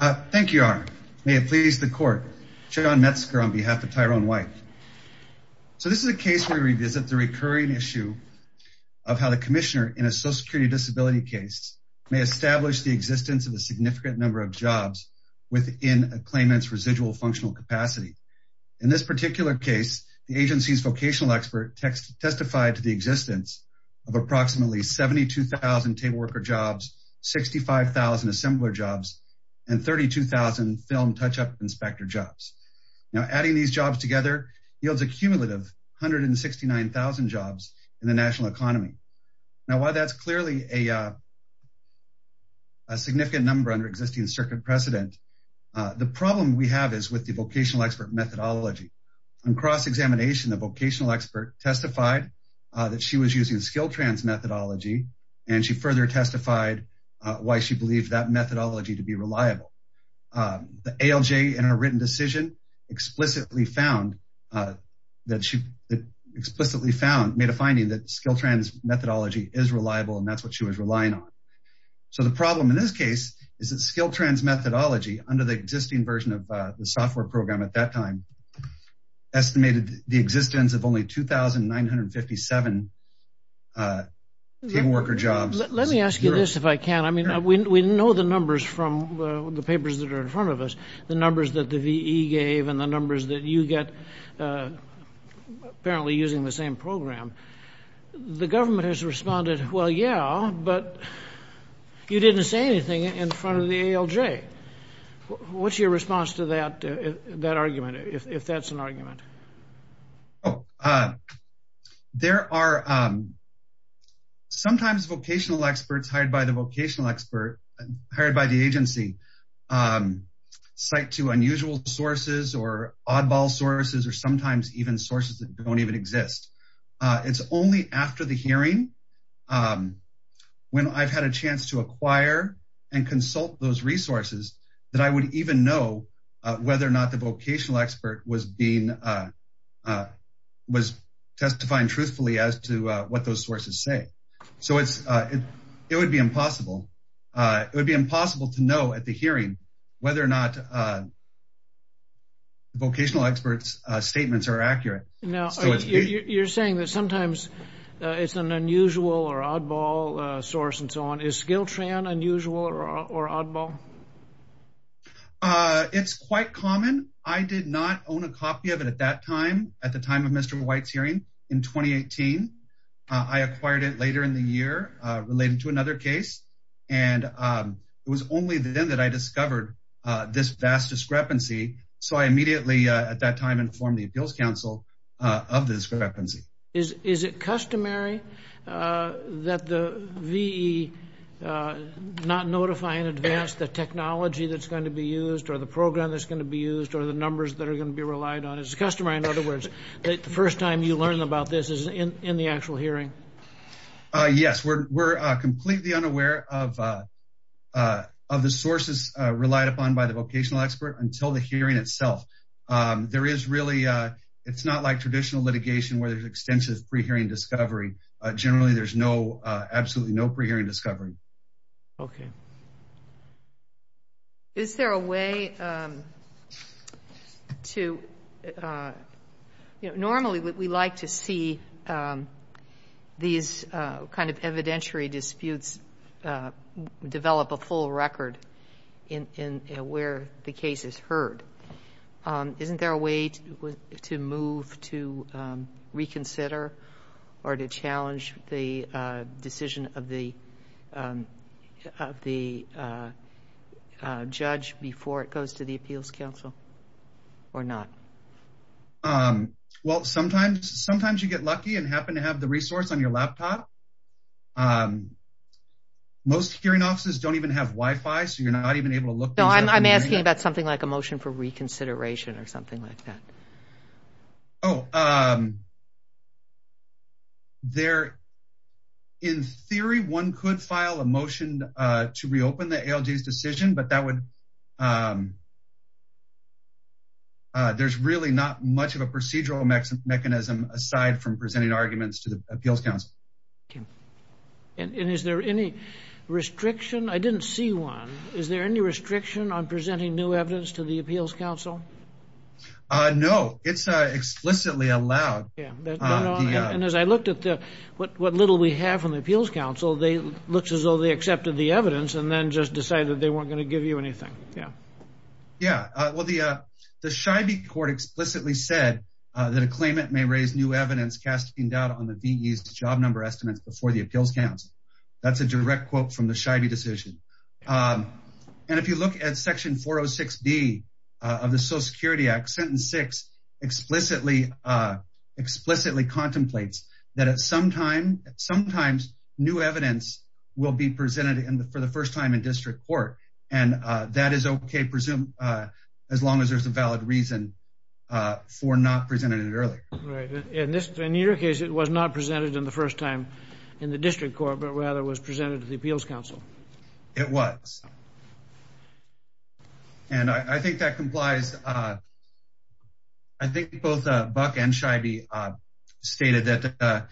Thank you, Your Honor. May it please the court. John Metzger on behalf of Tyrone White. So this is a case where we revisit the recurring issue of how the commissioner in a social security disability case may establish the existence of a significant number of jobs within a claimant's residual functional capacity. In this particular case, the agency's vocational expert testified to the existence of approximately 72,000 table worker jobs, 65,000 assembler jobs, and 32,000 film touch-up inspector jobs. Now adding these jobs together yields a cumulative 169,000 jobs in the national economy. Now while that's clearly a significant number under existing circuit precedent, the problem we have is with the vocational expert methodology. On cross-examination, the vocational expert testified that she was using the SkillTrans methodology and she further testified why she believed that methodology to be reliable. The ALJ in her written decision explicitly found that she explicitly found made a finding that SkillTrans methodology is reliable and that's what she was relying on. So the problem in this case is that SkillTrans methodology under the existing version of the software program at that time estimated the existence of only 2,957 table worker jobs. Let me ask you this if I can, I mean we know the numbers from the papers that are in front of us, the numbers that the VE gave and the numbers that you get apparently using the same program. The government has responded, well yeah, but you didn't say anything in front of the ALJ. What's your response to that argument if that's an argument? There are sometimes vocational experts hired by the agency cite to unusual sources or oddball sources or sometimes even sources that don't even exist. It's only after the hearing when I've had a chance to acquire and consult those resources that I would even know whether or not the vocational expert was being, was testifying truthfully as to what those sources say. So it would be impossible. It would be impossible to know at the hearing whether or not vocational experts statements are accurate. Now you're saying that sometimes it's an unusual or oddball source and so on, Skilltran unusual or oddball? It's quite common. I did not own a copy of it at that time, at the time of Mr. White's hearing in 2018. I acquired it later in the year related to another case and it was only then that I discovered this vast discrepancy. So I immediately at that time informed the Appeals Council of the discrepancy. Is it customary that the VE not notify in advance the technology that's going to be used or the program that's going to be used or the numbers that are going to be relied on? Is it customary in other words that the first time you learn about this is in the actual hearing? Yes, we're completely unaware of the sources relied upon by the vocational expert until the hearing itself. It's not like traditional litigation where there's extensive pre-hearing discovery. Generally, there's absolutely no pre-hearing discovery. Is there a way to, normally we like to see these evidentiary disputes develop a full where the case is heard. Isn't there a way to move to reconsider or to challenge the decision of the judge before it goes to the Appeals Council or not? Well, sometimes you get lucky and happen to have the resource on your laptop. Most hearing offices don't even have Wi-Fi so you're not even able to look. I'm asking about something like a motion for reconsideration or something like that. In theory, one could file a motion to reopen the ALJ's decision but there's really not much of a procedural mechanism aside from presenting arguments to the Appeals Council. Is there any restriction? I didn't see one. Is there any restriction on presenting new evidence to the Appeals Council? No, it's explicitly allowed. And as I looked at what little we have from the Appeals Council, they looked as though they accepted the evidence and then just decided that they weren't going to give you anything. Yeah, well the Scheibe court explicitly said that a claimant may raise new evidence casting doubt on the VE's job number estimates before the Appeals Council. That's a direct quote from the Scheibe decision. And if you look at section 406b of the Social Security Act, sentence six explicitly contemplates that at some time sometimes new evidence will be presented for the first time in district court and that is okay presumed as long as there's a valid reason for not presenting it earlier. Right, in your case it was not presented in the first time in the district court but rather was presented to the Appeals Council. It was. And I think that complies, I think both Buck and Scheibe stated that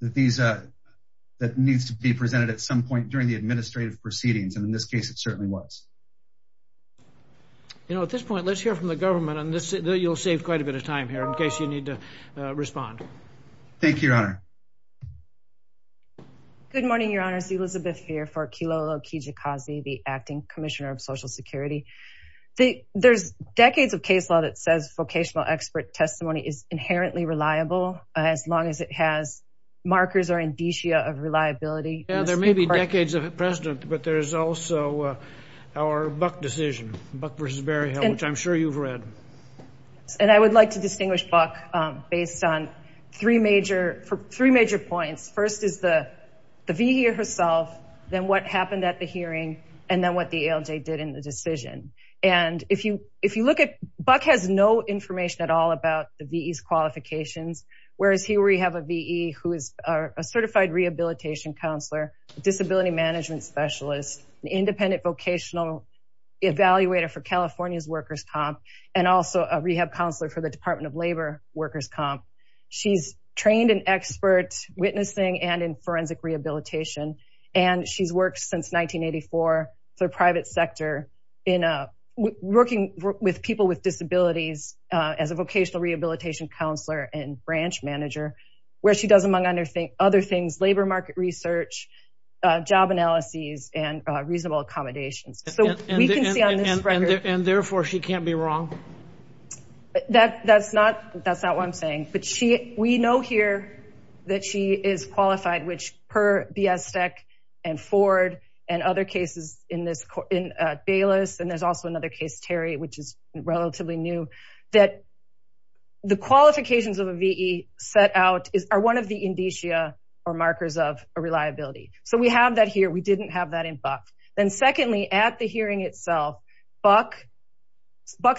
these, that needs to be presented at some point during the administrative proceedings and in this case it certainly was. You know at this point let's hear from the government on this. You'll quite a bit of time here in case you need to respond. Thank you, your honor. Good morning, your honors. Elizabeth here for Kilolo Kijikazi, the acting commissioner of Social Security. There's decades of case law that says vocational expert testimony is inherently reliable as long as it has markers or indicia of reliability. Yeah, there may be decades of precedent but there's also our Buck decision, Buck versus Berryhill, which I'm sure you've read. And I would like to distinguish Buck based on three major points. First is the VE herself, then what happened at the hearing, and then what the ALJ did in the decision. And if you look at, Buck has no information at all about the VE's qualifications, whereas here we have a VE who is a certified rehabilitation counselor, disability management specialist, independent vocational evaluator for California's workers comp, and also a rehab counselor for the department of labor workers comp. She's trained in expert witnessing and in forensic rehabilitation and she's worked since 1984 for private sector in working with people with disabilities as a vocational rehabilitation counselor and branch manager, where she does among other things labor market research, job analyses, and reasonable accommodations. And therefore, she can't be wrong? That's not what I'm saying, but we know here that she is qualified, which per Biasec and Ford and other cases in Bayless, and there's also another case, Terry, which is relatively new, that the qualifications of a VE set out are one of the indicia or markers of a reliability. So, we have that here. We didn't have that in Buck. Then secondly, at the hearing itself, Buck's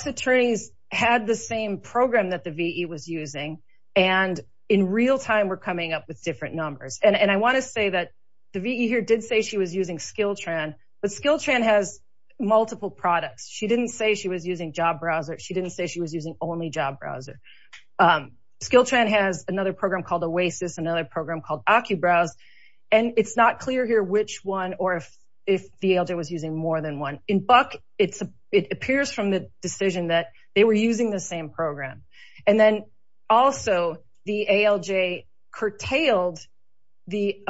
attorneys had the same program that the VE was using and in real time were coming up with different numbers. And I want to say that the VE here did say she was using Skilltran, but Skilltran has browser. She didn't say she was using only job browser. Skilltran has another program called Oasis, another program called OccuBrowse, and it's not clear here which one or if the ALJ was using more than one. In Buck, it appears from the decision that they were using the same program. And then also, the ALJ curtailed the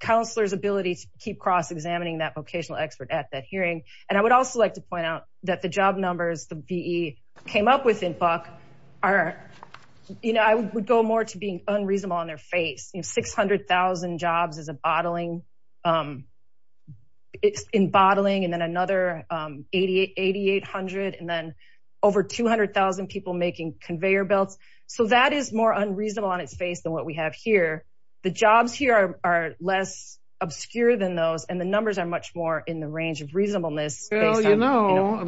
counselor's ability to keep cross-examining that vocational expert at that hearing. And I would also like to point out that the job numbers the VE came up with in Buck are, you know, I would go more to being unreasonable on their face. You know, 600,000 jobs is a bottling, it's in bottling, and then another 8,800, and then over 200,000 people making conveyor belts. So, that is more unreasonable on its face than what we have here. The jobs here are less obscure than those, and the numbers are much more in the range of reasonableness. Well, you know,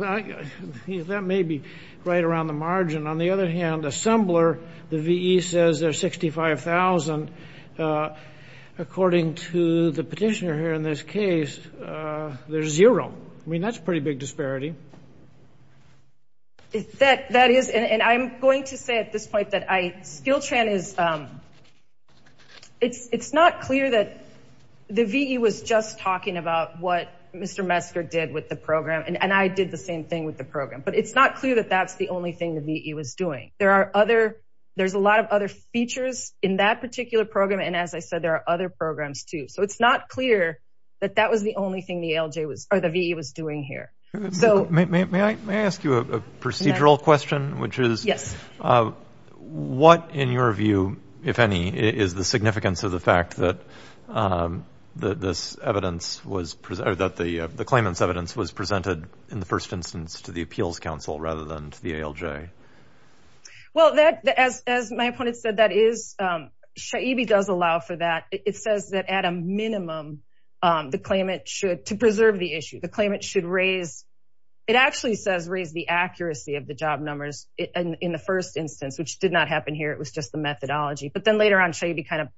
that may be right around the margin. On the other hand, Assembler, the VE says they're 65,000. According to the petitioner here in this case, there's zero. I mean, that's a pretty big disparity. That is, and I'm going to say at this point that I, SkillTran is, it's not clear that the VE was just talking about what Mr. Metzger did with the program, and I did the same thing with the program. But it's not clear that that's the only thing the VE was doing. There are other, there's a lot of other features in that particular program, and as I said, there are other programs too. So, it's not clear that that was the only thing the ALJ was, or the VE was doing here. So, may I ask you a procedural question, which is, what, in your view, if any, is the significance of the fact that this evidence was, that the claimant's evidence was presented in the first instance to the Appeals Council rather than to the ALJ? Well, that, as my opponent said, that is, Shaibi does allow for that. It says that at a minimum, the claimant should, to preserve the it actually says, raise the accuracy of the job numbers in the first instance, which did not happen here. It was just the methodology. But then later on, Shaibi kind of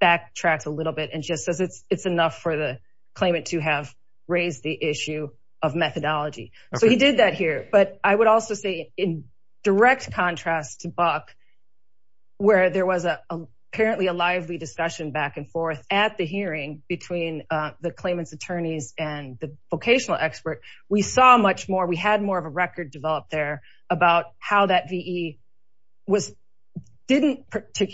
backtracked a little bit and just says it's enough for the claimant to have raised the issue of methodology. So, he did that here. But I would also say, in direct contrast to Buck, where there was apparently a lively discussion back and forth at the hearing between the expert, we saw much more, we had more of a record developed there about how that VE was, didn't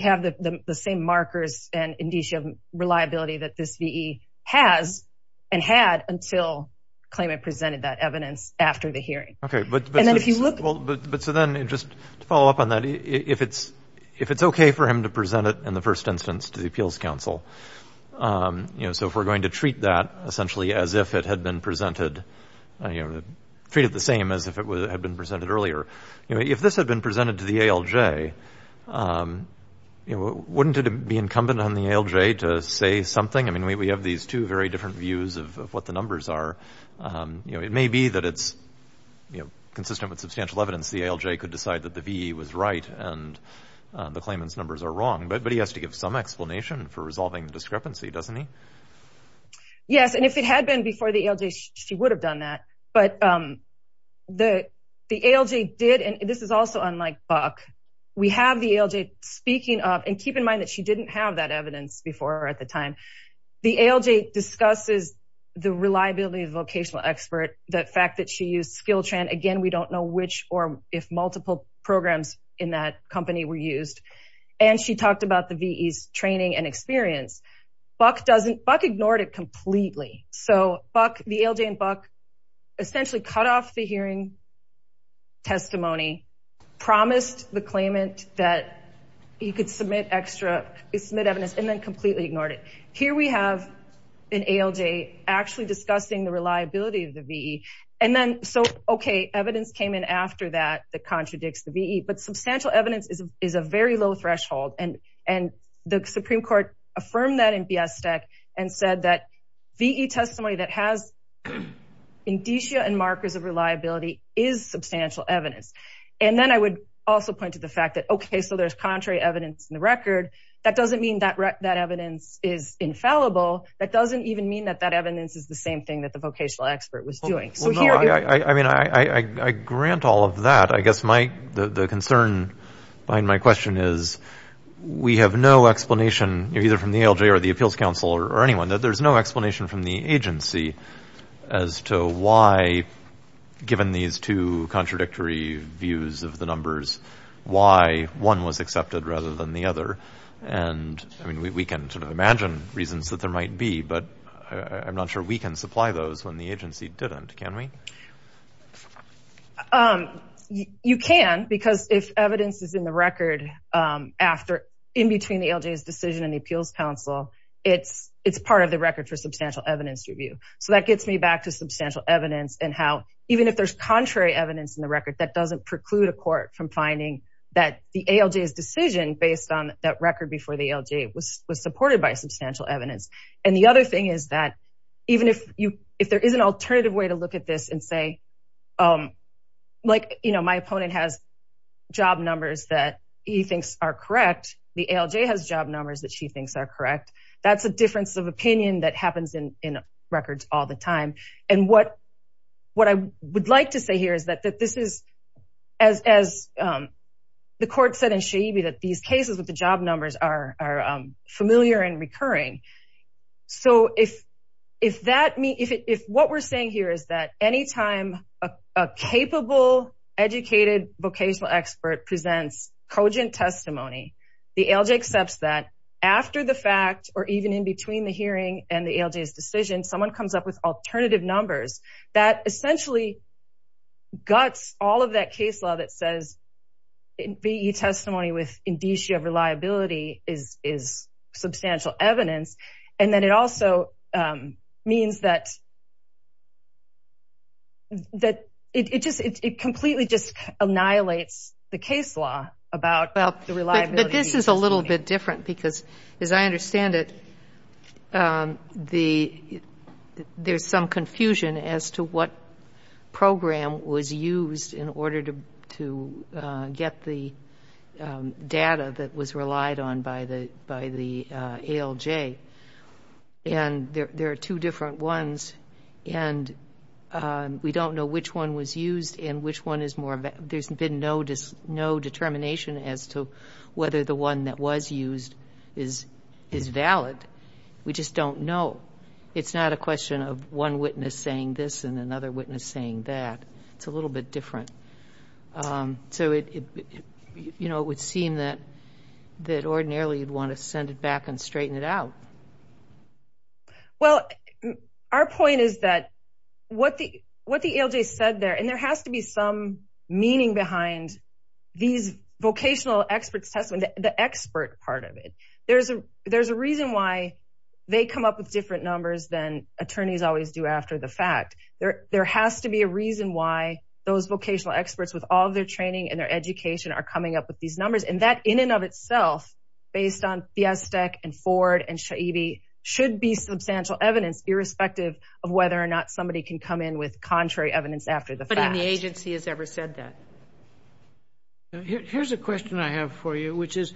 have the same markers and indicia of reliability that this VE has and had until claimant presented that evidence after the hearing. Okay, but then if you look, well, but so then just to follow up on that, if it's okay for him to present it in the first instance to the Appeals Council, you know, so if we're going to treat that essentially as if it had been presented, you know, treated the same as if it had been presented earlier, you know, if this had been presented to the ALJ, you know, wouldn't it be incumbent on the ALJ to say something? I mean, we have these two very different views of what the numbers are. You know, it may be that it's, you know, consistent with substantial evidence the ALJ could decide that the VE was right and the claimant's numbers are wrong. But he has to give some explanation for resolving the discrepancy, doesn't he? Yes, and if it had been before the ALJ, she would have done that. But the ALJ did and this is also unlike Buck. We have the ALJ speaking up and keep in mind that she didn't have that evidence before at the time. The ALJ discusses the reliability of vocational expert, the fact that she used Skilltran. Again, we don't know which or if multiple programs in that company were used. And she talked about the VE's training and experience. Buck ignored it completely. So Buck, the ALJ and Buck essentially cut off the hearing testimony, promised the claimant that you could submit extra, submit evidence and then completely ignored it. Here we have an ALJ actually discussing the reliability of the VE. And then so, okay, evidence came in after that that contradicts the VE. But substantial evidence is a very low threshold. And the Supreme Court affirmed that in Biastek and said that VE testimony that has indicia and markers of reliability is substantial evidence. And then I would also point to the fact that, okay, so there's contrary evidence in the record. That doesn't mean that evidence is infallible. That doesn't even mean that that evidence is the same thing that the vocational expert was doing. I grant all of that. I guess the concern behind my question is we have no explanation either from the ALJ or the Appeals Council or anyone that there's no explanation from the agency as to why, given these two contradictory views of the numbers, why one was accepted rather than the other. And I mean, we can sort of imagine reasons that there might be, but I'm not sure we can supply those when the agency didn't. Can we? You can, because if evidence is in the record after, in between the ALJ's decision and the Appeals Council, it's part of the record for substantial evidence review. So that gets me back to substantial evidence and how, even if there's contrary evidence in the record, that doesn't preclude a court from finding that the ALJ's decision based on that record before the ALJ was supported by substantial evidence. And the other thing is that even if there is alternative way to look at this and say, like, you know, my opponent has job numbers that he thinks are correct. The ALJ has job numbers that she thinks are correct. That's a difference of opinion that happens in records all the time. And what I would like to say here is that this is, as the court said in Shaibi, that these cases with the job numbers are familiar and recurring. So if what we're saying here is that anytime a capable, educated vocational expert presents cogent testimony, the ALJ accepts that after the fact, or even in between the hearing and the ALJ's decision, someone comes up with alternative numbers, that essentially guts all of that case law that says VE testimony with indicia of reliability is substantial evidence. And then it also means that it completely just annihilates the case law about the reliability. But this is a little bit different because, as I understand it, the, there's some confusion as to what program was used in order to get the data that was relied on by the ALJ. And there are two different ones. And we don't know which one was used and which one is more, there's been no determination as to whether the one that was used is valid. We just don't know. It's not a question of one witness saying this and another witness saying that. It's a little bit different. So it would seem that ordinarily you'd want to send it back and straighten it out. Well, our point is that what the ALJ said there, there has to be some meaning behind these vocational experts' testimony, the expert part of it. There's a reason why they come up with different numbers than attorneys always do after the fact. There has to be a reason why those vocational experts with all of their training and their education are coming up with these numbers. And that in and of itself, based on Fiestek and Ford and Shaibi, should be substantial evidence irrespective of whether or not somebody can come in with contrary evidence after the fact. But any agency has ever said that. Here's a question I have for you, which is,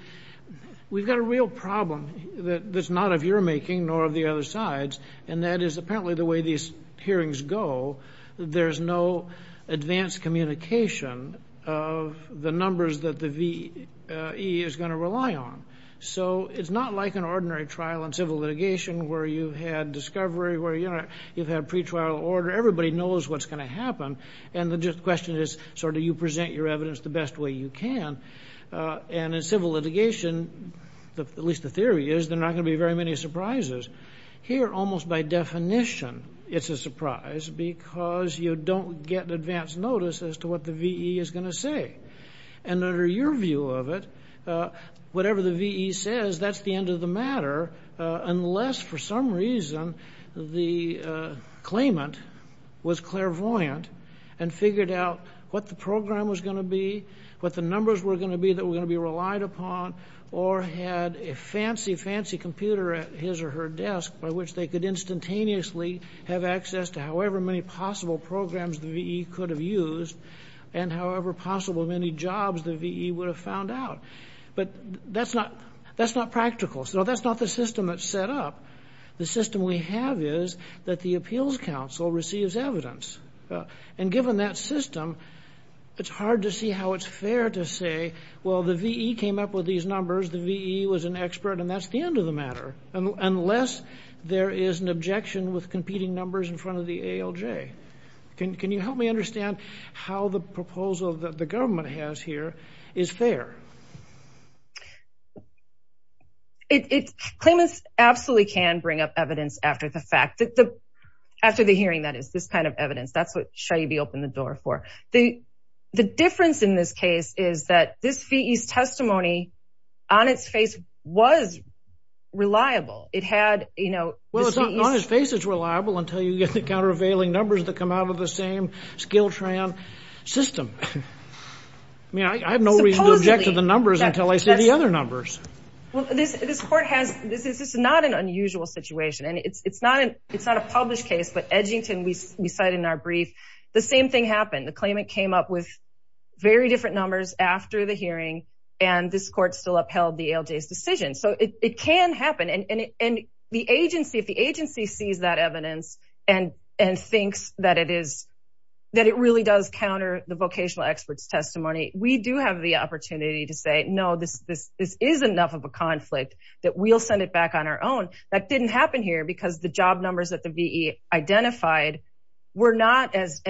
we've got a real problem that's not of your making nor of the other side's. And that is apparently the way these hearings go. There's no advanced communication of the numbers that the VE is going to rely on. So it's not like an ordinary trial in everybody knows what's going to happen. And the question is, so do you present your evidence the best way you can? And in civil litigation, at least the theory is, there are not going to be very many surprises. Here, almost by definition, it's a surprise because you don't get an advance notice as to what the VE is going to say. And under your view of it, whatever the VE says, that's the end of the matter, unless for some reason the claimant was clairvoyant and figured out what the program was going to be, what the numbers were going to be that were going to be relied upon, or had a fancy, fancy computer at his or her desk by which they could instantaneously have access to however many possible programs the VE could have used and however possible many jobs the VE would have found out. But that's not practical. So that's not the system that's set up. The system we have is that the Appeals Council receives evidence. And given that system, it's hard to see how it's fair to say, well, the VE came up with these numbers, the VE was an expert, and that's the end of the matter, unless there is an objection with competing numbers in front of is fair. Claimants absolutely can bring up evidence after the fact, after the hearing, that is, this kind of evidence. That's what should you be open the door for. The difference in this case is that this VE's testimony on its face was reliable. It had, you know... Well, it's not on his face it's reliable until you get the countervailing numbers that come out of the same Skiltran system. I mean, I have no reason to object to the numbers until I see the other numbers. Well, this court has, this is not an unusual situation. And it's not a published case, but Edgington, we cite in our brief, the same thing happened. The claimant came up with very different numbers after the hearing, and this court still upheld the ALJ's decision. So it can happen. And if the agency sees that evidence and thinks that it really does counter the vocational experts' testimony, we do have the opportunity to say, no, this is enough of a conflict that we'll send it back on our own. That didn't happen here because the job numbers that the VE identified were not as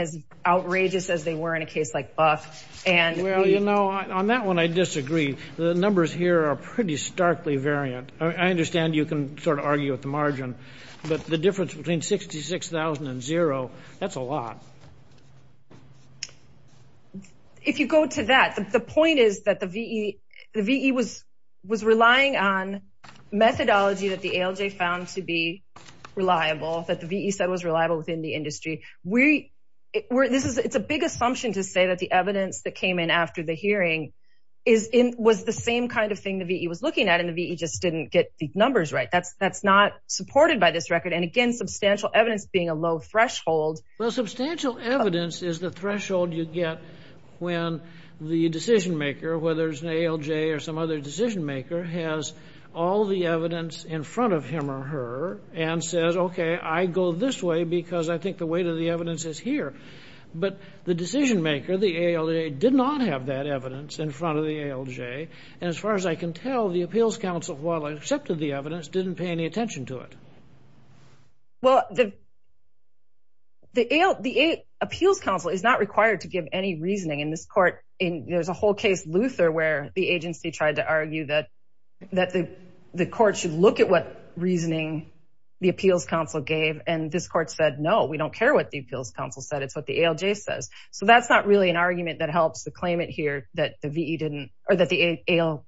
outrageous as they were in a case like Buck. Well, you know, on that one, I disagree. The numbers here are pretty starkly variant. I understand you can sort of argue with the margin, but the difference between 66,000 and zero, that's a lot. If you go to that, the point is that the VE was relying on methodology that the ALJ found to be reliable, that the VE said was reliable within the industry. It's a big assumption to say that the evidence that came in after the hearing was the same kind of thing the VE was looking at, and the VE just didn't get the numbers right. That's not supported by this record. And again, substantial evidence being a low threshold. Well, substantial evidence is the threshold you get when the decision maker, whether it's an ALJ or some other decision maker, has all the evidence in front of him or her and says, OK, I go this way because I think the weight of the evidence is here. But the decision maker, the ALJ, did not have that evidence in front of the ALJ. And as far as I can tell, the appeals counsel, while I accepted the evidence, didn't pay any attention to it. Well, the appeals counsel is not required to give any reasoning in this court. There's a whole case, Luther, where the agency tried to argue that the court should look at what reasoning the appeals counsel gave. And this court said, no, we don't care what the appeals counsel said. It's what the ALJ says. So that's not really an argument that helps to claim it here that the VE didn't or that the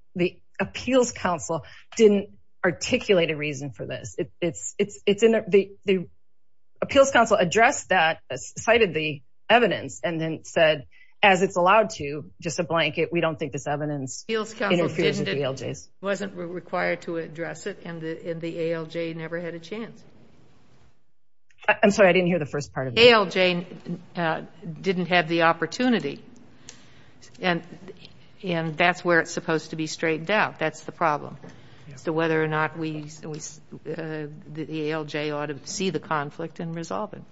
appeals counsel didn't articulate a reason for this. The appeals counsel addressed that, cited the evidence, and then said, as it's allowed to, just a blanket, we don't think this evidence interferes with the ALJs. The appeals counsel wasn't required to address it, and the ALJ never had a chance. I'm sorry, I didn't hear the first part of it. The ALJ didn't have the opportunity, and that's where it's supposed to be straightened out. That's the problem. So whether or not the ALJ ought to see the conflict and resolve it.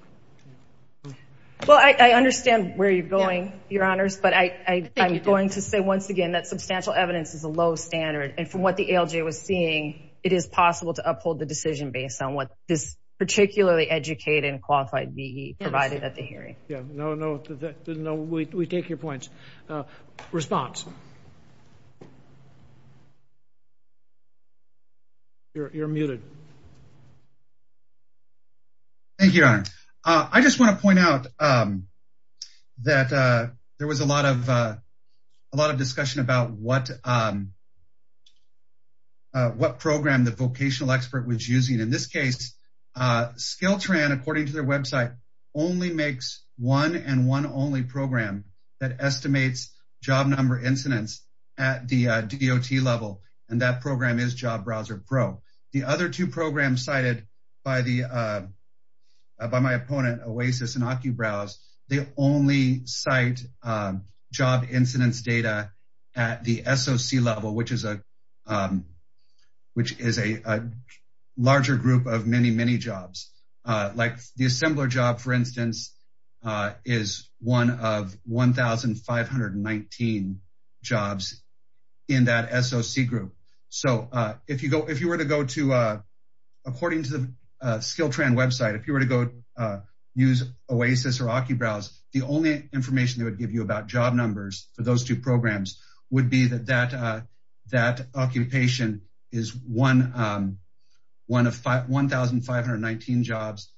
Well, I understand where you're going, Your Honors, but I'm going to say once again that substantial evidence is a low standard. And from what the ALJ was seeing, it is possible to uphold the decision based on what this particularly educated and qualified VE provided at the hearing. Yeah, no, no, we take your points. Response? You're muted. Thank you, Your Honor. I just want to point out that there was a lot of discussion about what program the vocational expert was using. In this case, SkillTran, according to their website, only makes one and one only program that estimates job number incidence at the DOT level, and that program is Job Browser Pro. The other two programs cited by my opponent, OASIS and SOC level, which is a larger group of many, many jobs, like the assembler job, for instance, is one of 1,519 jobs in that SOC group. So if you were to go to, according to the SkillTran website, if you were to go use OASIS or Occubrowse, the only information they would give you about job numbers for those two programs would be that that occupation is one of 1,519 jobs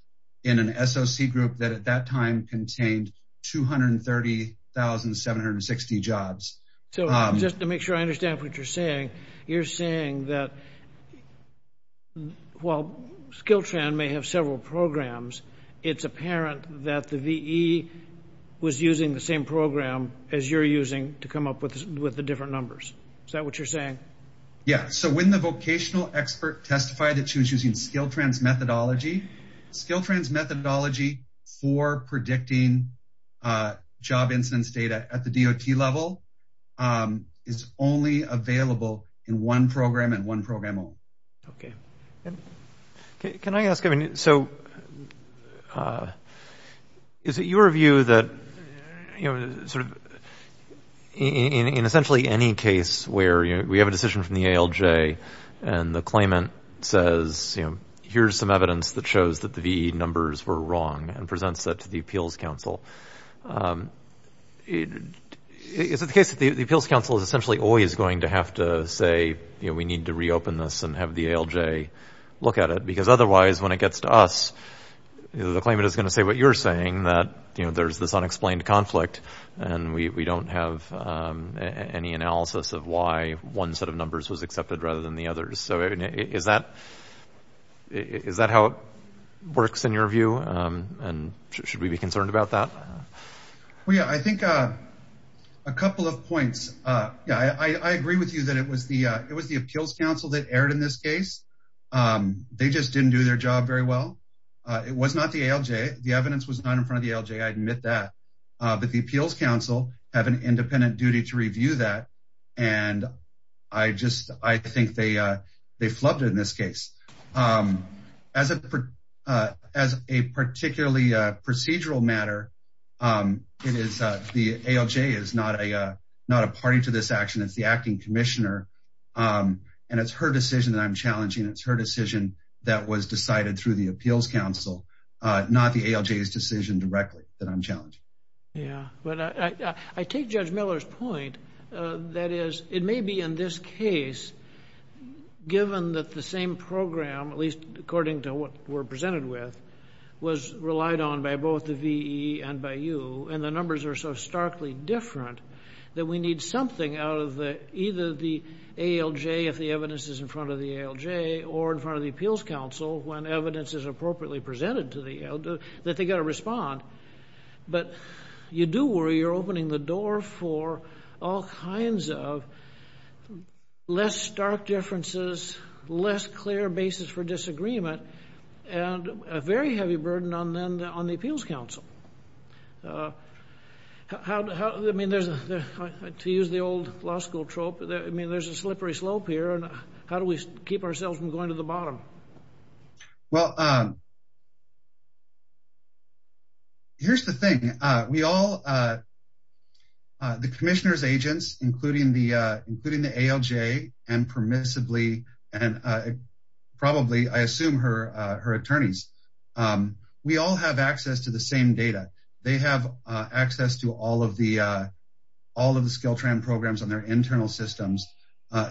in an SOC group that at that time contained 230,760 jobs. So just to make sure I understand what you're saying, you're saying that while SkillTran may have several programs, it's apparent that the VE was using the same program as you're using to come up with the different numbers. Is that what you're saying? Yeah, so when the vocational expert testified that she was using SkillTran's methodology, SkillTran's methodology for predicting job incidence data at the DOT level is only available in one program and one program only. Okay. Can I ask, I mean, so is it your view that, you know, sort of in essentially any case where we have a decision from the ALJ and the claimant says, you know, here's some evidence that shows the VE numbers were wrong and presents that to the Appeals Council, is it the case that the Appeals Council is essentially always going to have to say, you know, we need to reopen this and have the ALJ look at it? Because otherwise when it gets to us, the claimant is going to say what you're saying, that, you know, there's this unexplained conflict and we don't have any analysis of why one set of numbers was accepted rather than the others. So is that how it works in your view? And should we be concerned about that? Well, yeah, I think a couple of points. Yeah, I agree with you that it was the Appeals Council that erred in this case. They just didn't do their job very well. It was not the ALJ, the evidence was not in front of the ALJ, I admit that. But the Appeals Council have an they flubbed it in this case. As a particularly procedural matter, the ALJ is not a party to this action, it's the Acting Commissioner. And it's her decision that I'm challenging. It's her decision that was decided through the Appeals Council, not the ALJ's decision directly that I'm challenging. Yeah, but I take Judge Miller's that is, it may be in this case, given that the same program, at least according to what we're presented with, was relied on by both the VE and by you, and the numbers are so starkly different, that we need something out of the either the ALJ if the evidence is in front of the ALJ or in front of the Appeals Council when evidence is appropriately presented to the ALJ that they got to respond. But you do worry you're opening the door for all kinds of less stark differences, less clear basis for disagreement, and a very heavy burden on then on the Appeals Council. How do I mean, there's to use the old law school trope, I mean, there's a slippery slope here. And how do we keep ourselves from going to the bottom? Well, here's the thing, we all, the Commissioner's agents, including the ALJ and permissibly, and probably I assume her attorneys, we all have access to the same data. They have access to all of the programs on their internal systems.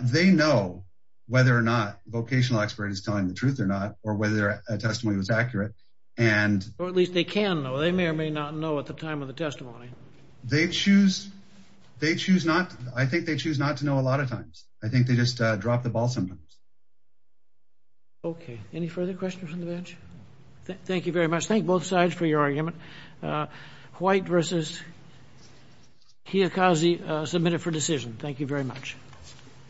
They know whether or not vocational expert is telling the truth or not, or whether a testimony was accurate. Or at least they can know, they may or may not know at the time of the testimony. They choose not, I think they choose not to know a lot of times. I think they just drop the ball sometimes. Okay, any further questions from the bench? Thank you very much. Thank both sides for your argument. White versus Kiyokaze submitted for decision. Thank you very much.